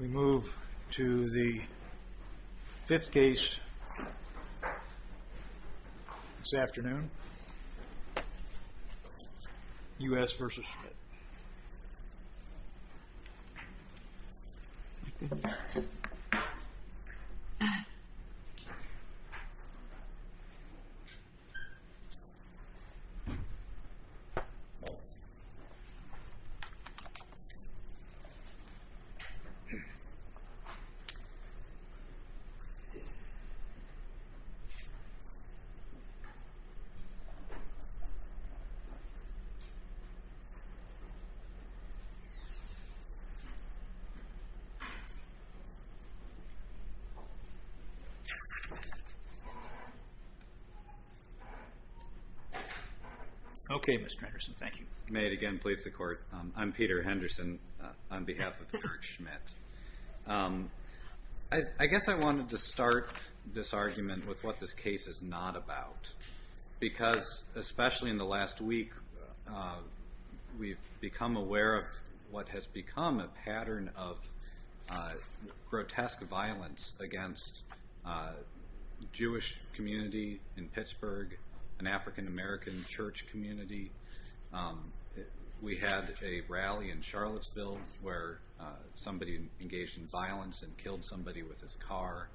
We move to the fifth case this afternoon, U.S. v. Schmidt. Mr. Henderson, may it again please the Court. I'm Peter Henderson on behalf of Erik Schmidt. I guess I wanted to start this argument with what this case is not about, because especially in the last week we've become aware of what has become a pattern of grotesque violence against a Jewish community in Pittsburgh, an African-American church community. We had a rally in Charlottesville where somebody engaged in violence and killed somebody with his car.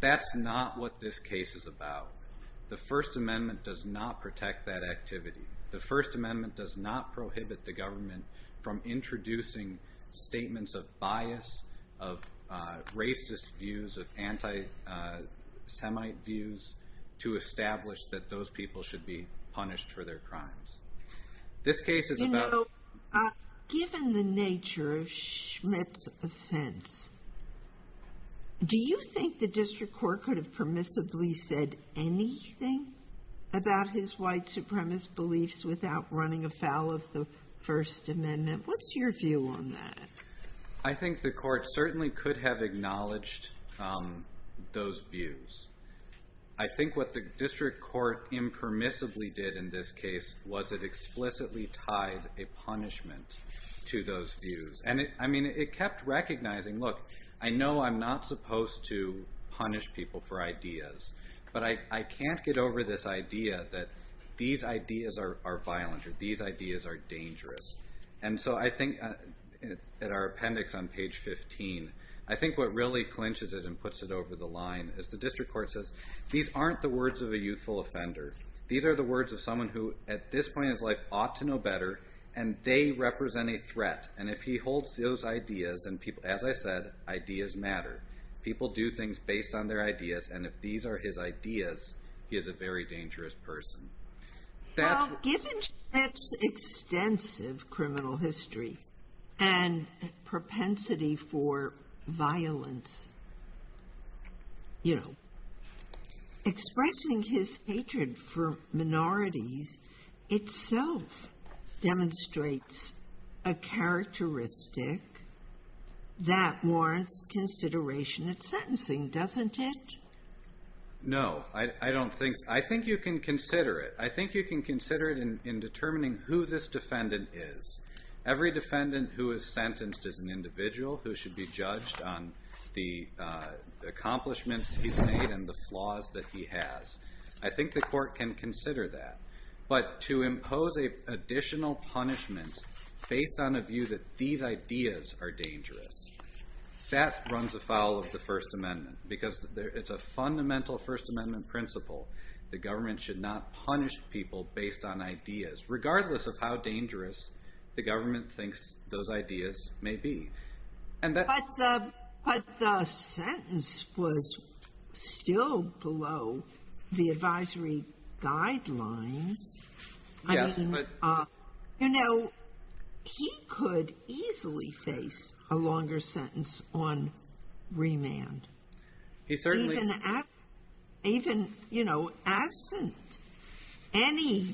That's not what this case is about. The First Amendment does not protect that activity. The First Amendment does not prohibit the government from introducing statements of bias, of racist views, of anti-Semite views, to establish that those people should be punished for their crimes. You know, given the nature of Schmidt's offense, do you think the District Court could have permissibly said anything about his white supremacist beliefs without running afoul of the First Amendment? What's your view on that? I think the Court certainly could have acknowledged those views. I think what the District Court impermissibly did in this case was it explicitly tied a punishment to those views. And it kept recognizing, look, I know I'm not supposed to punish people for ideas, but I can't get over this idea that these ideas are violent or these ideas are dangerous. And so I think at our appendix on page 15, I think what really clinches it and puts it over the line is the District Court says, these aren't the words of a youthful offender. These are the words of someone who, at this point in his life, ought to know better, and they represent a threat. And if he holds those ideas, and as I said, ideas matter. People do things based on their ideas, and if these are his ideas, he is a very dangerous person. Well, given Schmitt's extensive criminal history and propensity for violence, you know, expressing his hatred for minorities itself demonstrates a characteristic that warrants consideration at sentencing, doesn't it? No, I don't think so. I think you can consider it. I think you can consider it in determining who this defendant is. Every defendant who is sentenced is an individual who should be judged on the accomplishments he's made and the flaws that he has. I think the Court can consider that. But to impose an additional punishment based on a view that these ideas are dangerous, that runs afoul of the First Amendment because it's a fundamental First Amendment principle. The government should not punish people based on ideas, regardless of how dangerous the government thinks those ideas may be. But the sentence was still below the advisory guidelines. You know, he could easily face a longer sentence on remand. Even absent any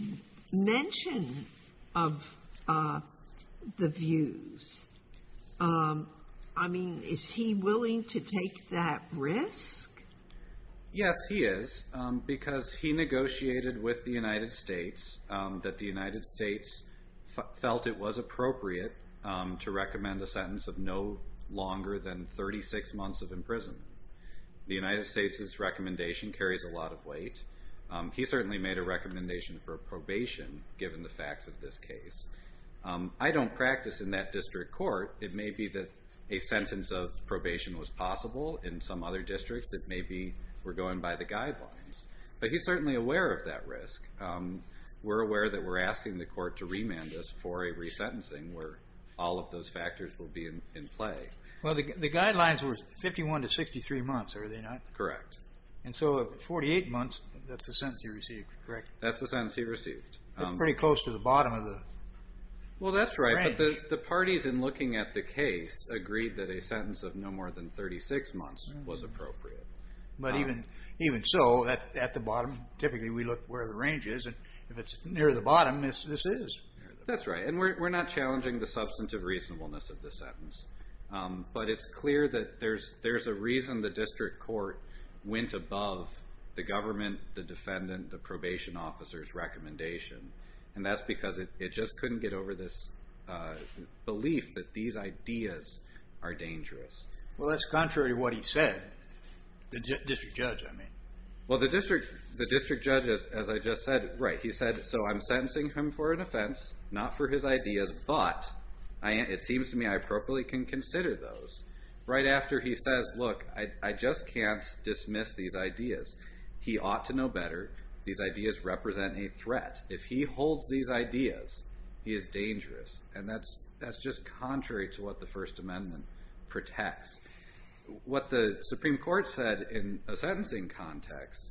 mention of the views. I mean, is he willing to take that risk? Yes, he is, because he negotiated with the United States that the United States felt it was appropriate to recommend a sentence of no longer than 36 months of imprisonment. The United States' recommendation carries a lot of weight. He certainly made a recommendation for probation, given the facts of this case. I don't practice in that district court. It may be that a sentence of probation was possible in some other districts that maybe were going by the guidelines. But he's certainly aware of that risk. We're aware that we're asking the Court to remand us for a resentencing where all of those factors will be in play. Well, the guidelines were 51 to 63 months, are they not? Correct. And so at 48 months, that's the sentence he received, correct? That's the sentence he received. That's pretty close to the bottom of the range. Well, that's right, but the parties in looking at the case agreed that a sentence of no more than 36 months was appropriate. But even so, at the bottom, typically we look where the range is, and if it's near the bottom, this is. That's right, and we're not challenging the substantive reasonableness of the sentence. But it's clear that there's a reason the district court went above the government, the defendant, the probation officer's recommendation, and that's because it just couldn't get over this belief that these ideas are dangerous. Well, that's contrary to what he said, the district judge, I mean. Well, the district judge, as I just said, right, he said, so I'm sentencing him for an offense, not for his ideas, but it seems to me I appropriately can consider those. Right after he says, look, I just can't dismiss these ideas. He ought to know better. These ideas represent a threat. If he holds these ideas, he is dangerous, and that's just contrary to what the First Amendment protects. What the Supreme Court said in a sentencing context,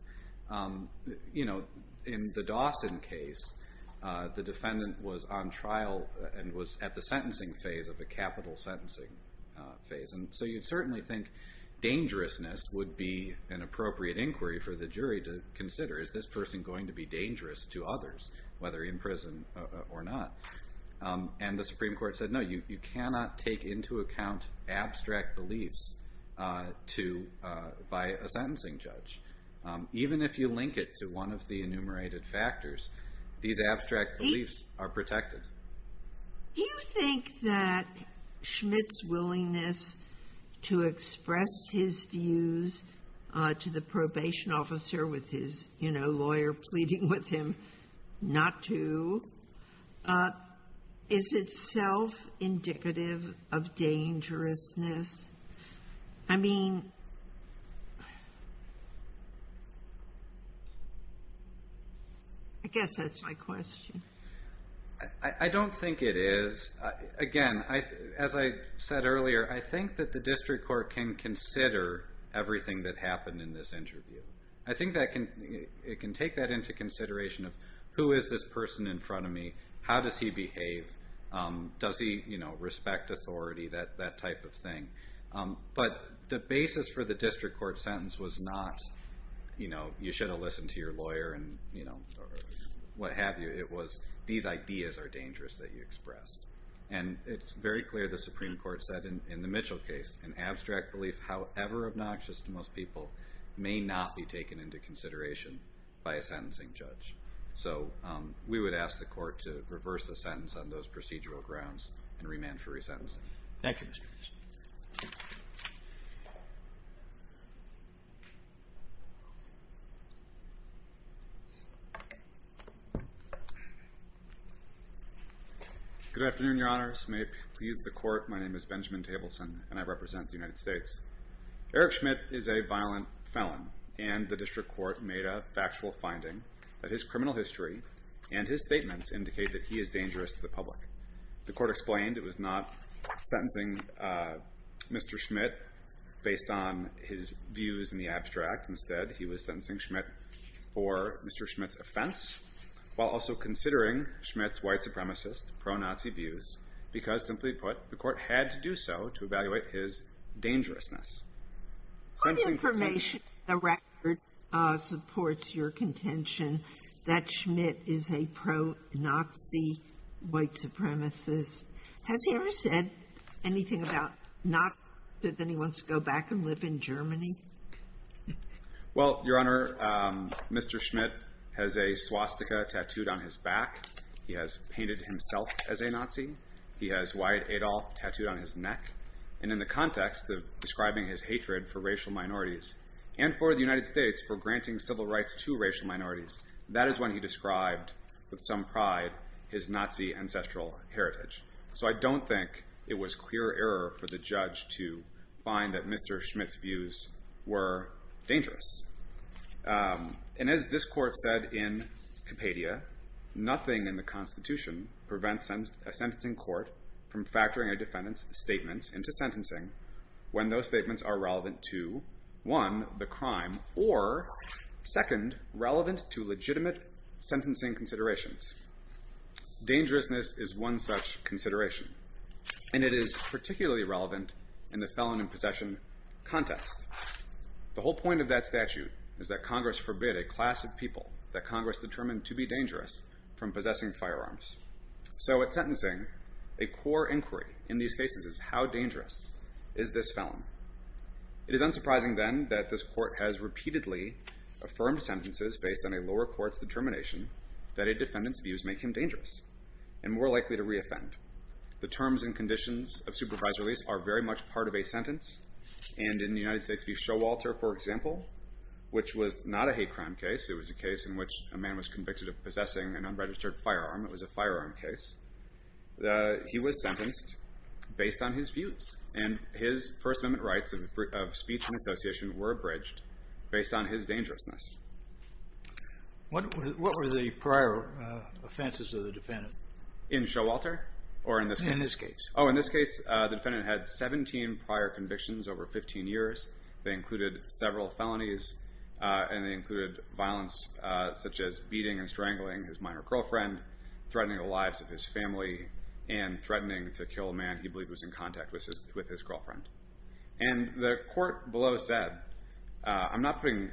you know, in the Dawson case, the defendant was on trial and was at the sentencing phase of a capital sentencing phase, and so you'd certainly think dangerousness would be an appropriate inquiry for the jury to consider. Is this person going to be dangerous to others, whether in prison or not? And the Supreme Court said, no, you cannot take into account abstract beliefs by a sentencing judge. Even if you link it to one of the enumerated factors, these abstract beliefs are protected. Do you think that Schmidt's willingness to express his views to the probation officer with his, you know, lawyer pleading with him not to, is itself indicative of dangerousness? I mean, I guess that's my question. I don't think it is. Again, as I said earlier, I think that the district court can consider everything that happened in this interview. I think it can take that into consideration of who is this person in front of me, how does he behave, does he, you know, respect authority, that type of thing. But the basis for the district court sentence was not, you know, what have you, it was these ideas are dangerous that you expressed. And it's very clear the Supreme Court said in the Mitchell case, an abstract belief, however obnoxious to most people, may not be taken into consideration by a sentencing judge. So we would ask the court to reverse the sentence on those procedural grounds and remand for resentencing. Thank you, Mr. Mitchell. Good afternoon, Your Honors. May it please the court, my name is Benjamin Tableson, and I represent the United States. Eric Schmidt is a violent felon, and the district court made a factual finding that his criminal history and his statements indicate that he is dangerous to the public. The court explained it was not sentencing Mr. Schmidt based on his views in the abstract. Instead, he was sentencing Schmidt for Mr. Schmidt's offense, while also considering Schmidt's white supremacist, pro-Nazi views, because, simply put, the court had to do so to evaluate his dangerousness. What information in the record supports your contention that Schmidt is a pro-Nazi white supremacist? Has he ever said anything about not that he wants to go back and live in Germany? Well, Your Honor, Mr. Schmidt has a swastika tattooed on his back. He has painted himself as a Nazi. He has Wyatt Adolf tattooed on his neck. And in the context of describing his hatred for racial minorities and for the United States for granting civil rights to racial minorities, that is when he described with some pride his Nazi ancestral heritage. So I don't think it was clear error for the judge to find that Mr. Schmidt's views were dangerous. And as this court said in Compadia, nothing in the Constitution prevents a sentencing court from factoring a defendant's statements into sentencing when those statements are relevant to, one, the crime, or, second, relevant to legitimate sentencing considerations. Dangerousness is one such consideration. And it is particularly relevant in the felon in possession context. The whole point of that statute is that Congress forbid a class of people that Congress determined to be dangerous from possessing firearms. So at sentencing, a core inquiry in these cases is how dangerous is this felon? It is unsurprising, then, that this court has repeatedly affirmed sentences based on a lower court's determination that a defendant's views make him dangerous and more likely to reoffend. The terms and conditions of supervised release are very much part of a sentence. And in the United States v. Showalter, for example, which was not a hate crime case. It was a case in which a man was convicted of possessing an unregistered firearm. It was a firearm case. He was sentenced based on his views. And his First Amendment rights of speech and association were abridged based on his dangerousness. What were the prior offenses of the defendant? In Showalter? Or in this case? In this case. Oh, in this case, the defendant had 17 prior convictions over 15 years. They included several felonies. And they included violence such as beating and strangling his minor girlfriend, threatening the lives of his family, and threatening to kill a man he believed was in contact with his girlfriend. And the court below said, I'm not putting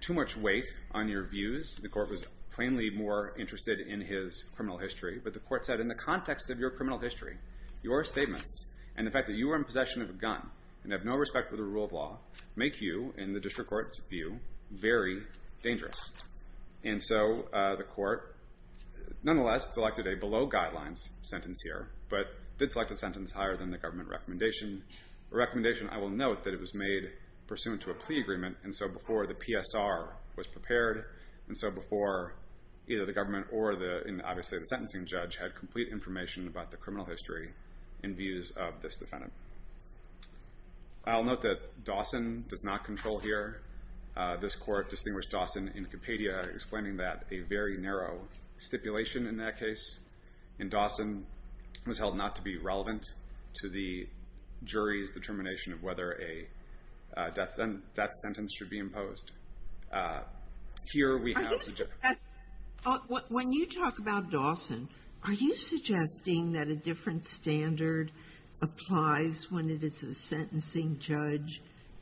too much weight on your views. The court was plainly more interested in his criminal history. But the court said, in the context of your criminal history, your statements and the fact that you were in possession of a gun and have no respect for the rule of law make you, in the district court's view, very dangerous. And so the court, nonetheless, selected a below guidelines sentence here but did select a sentence higher than the government recommendation, a recommendation, I will note, that it was made pursuant to a plea agreement and so before the PSR was prepared and so before either the government or obviously the sentencing judge had complete information about the criminal history in views of this defendant. I'll note that Dawson does not control here. This court distinguished Dawson in Compadia, explaining that a very narrow stipulation in that case, and Dawson was held not to be relevant to the jury's determination of whether that sentence should be imposed. Here we have the difference. When you talk about Dawson, are you suggesting that a different standard applies when it is a sentencing judge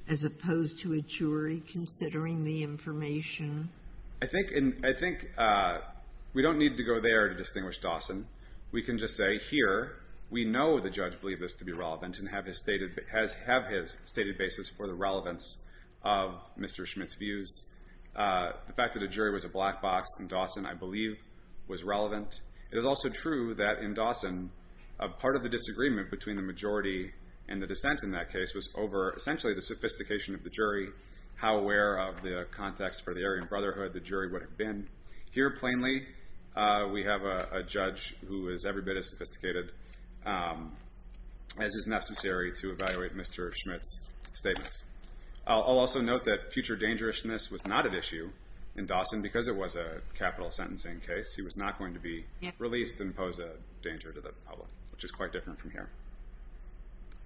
as opposed to a jury considering the information? I think we don't need to go there to distinguish Dawson. We can just say here we know the judge believed this to be relevant and have his stated basis for the relevance of Mr. Schmidt's views. The fact that a jury was a black box in Dawson, I believe, was relevant. It is also true that in Dawson, part of the disagreement between the majority and the dissent in that case was over essentially the sophistication of the jury, how aware of the context for the Aryan Brotherhood the jury would have been. Here, plainly, we have a judge who is every bit as sophisticated as is necessary to evaluate Mr. Schmidt's statements. I'll also note that future dangerousness was not an issue in Dawson because it was a capital sentencing case. He was not going to be released and pose a danger to the public, which is quite different from here.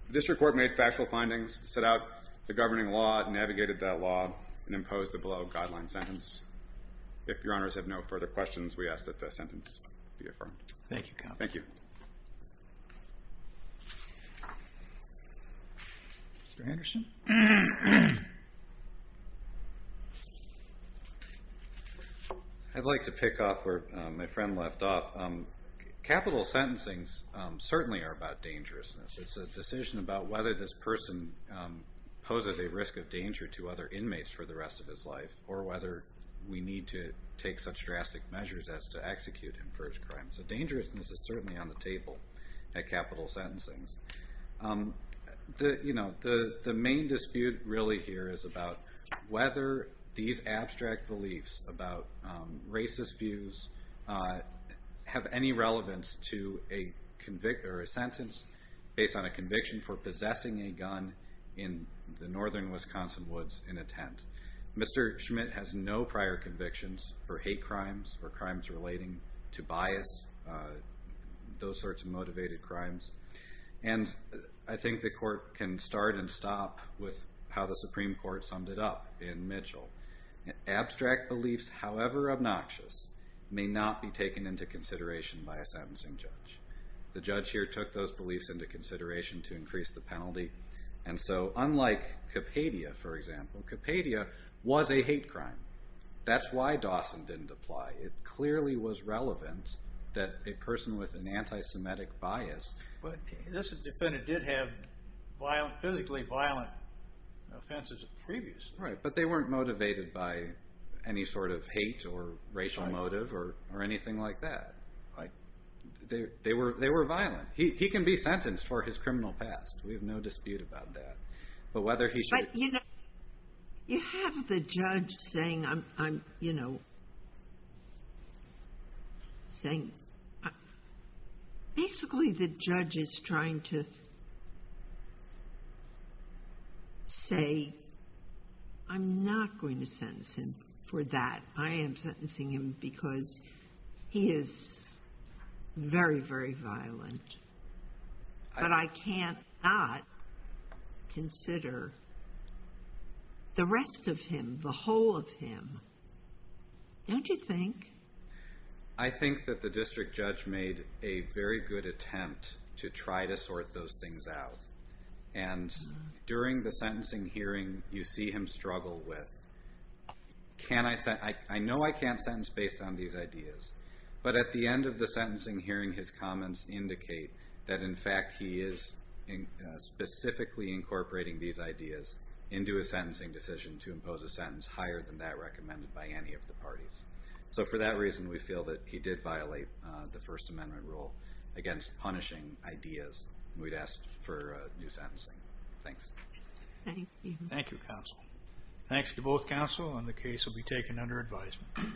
The district court made factual findings, set out the governing law, navigated that law, and imposed the below guideline sentence. If Your Honors have no further questions, we ask that the sentence be affirmed. Thank you, counsel. Thank you. Mr. Anderson? I'd like to pick up where my friend left off. Capital sentencings certainly are about dangerousness. It's a decision about whether this person poses a risk of danger to other inmates for the rest of his life or whether we need to take such drastic measures as to execute him for his crime. So dangerousness is certainly on the table at capital sentencings. The main dispute really here is about whether these abstract beliefs about racist views have any relevance to a sentence based on a conviction for possessing a gun in the northern Wisconsin woods in a tent. Mr. Schmidt has no prior convictions for hate crimes or crimes relating to bias, those sorts of motivated crimes, and I think the court can start and stop with how the Supreme Court summed it up in Mitchell. Abstract beliefs, however obnoxious, may not be taken into consideration by a sentencing judge. The judge here took those beliefs into consideration to increase the penalty, and so unlike Kapadia, for example, Kapadia was a hate crime. That's why Dawson didn't apply. It clearly was relevant that a person with an anti-Semitic bias... But this defendant did have physically violent offenses previously. Right, but they weren't motivated by any sort of hate or racial motive or anything like that. They were violent. He can be sentenced for his criminal past. We have no dispute about that. But whether he should... But, you know, you have the judge saying, you know, saying... Basically, the judge is trying to say, I'm not going to sentence him for that. I am sentencing him because he is very, very violent. But I can't not consider the rest of him, the whole of him. Don't you think? I think that the district judge made a very good attempt to try to sort those things out. And during the sentencing hearing, you see him struggle with, I know I can't sentence based on these ideas. But at the end of the sentencing hearing, his comments indicate that, in fact, he is specifically incorporating these ideas into a sentencing decision to impose a sentence higher than that recommended by any of the parties. So for that reason, we feel that he did violate the First Amendment rule against punishing ideas, and we'd ask for new sentencing. Thanks. Thank you. Thank you, counsel. Thanks to both counsel, and the case will be taken under advisement.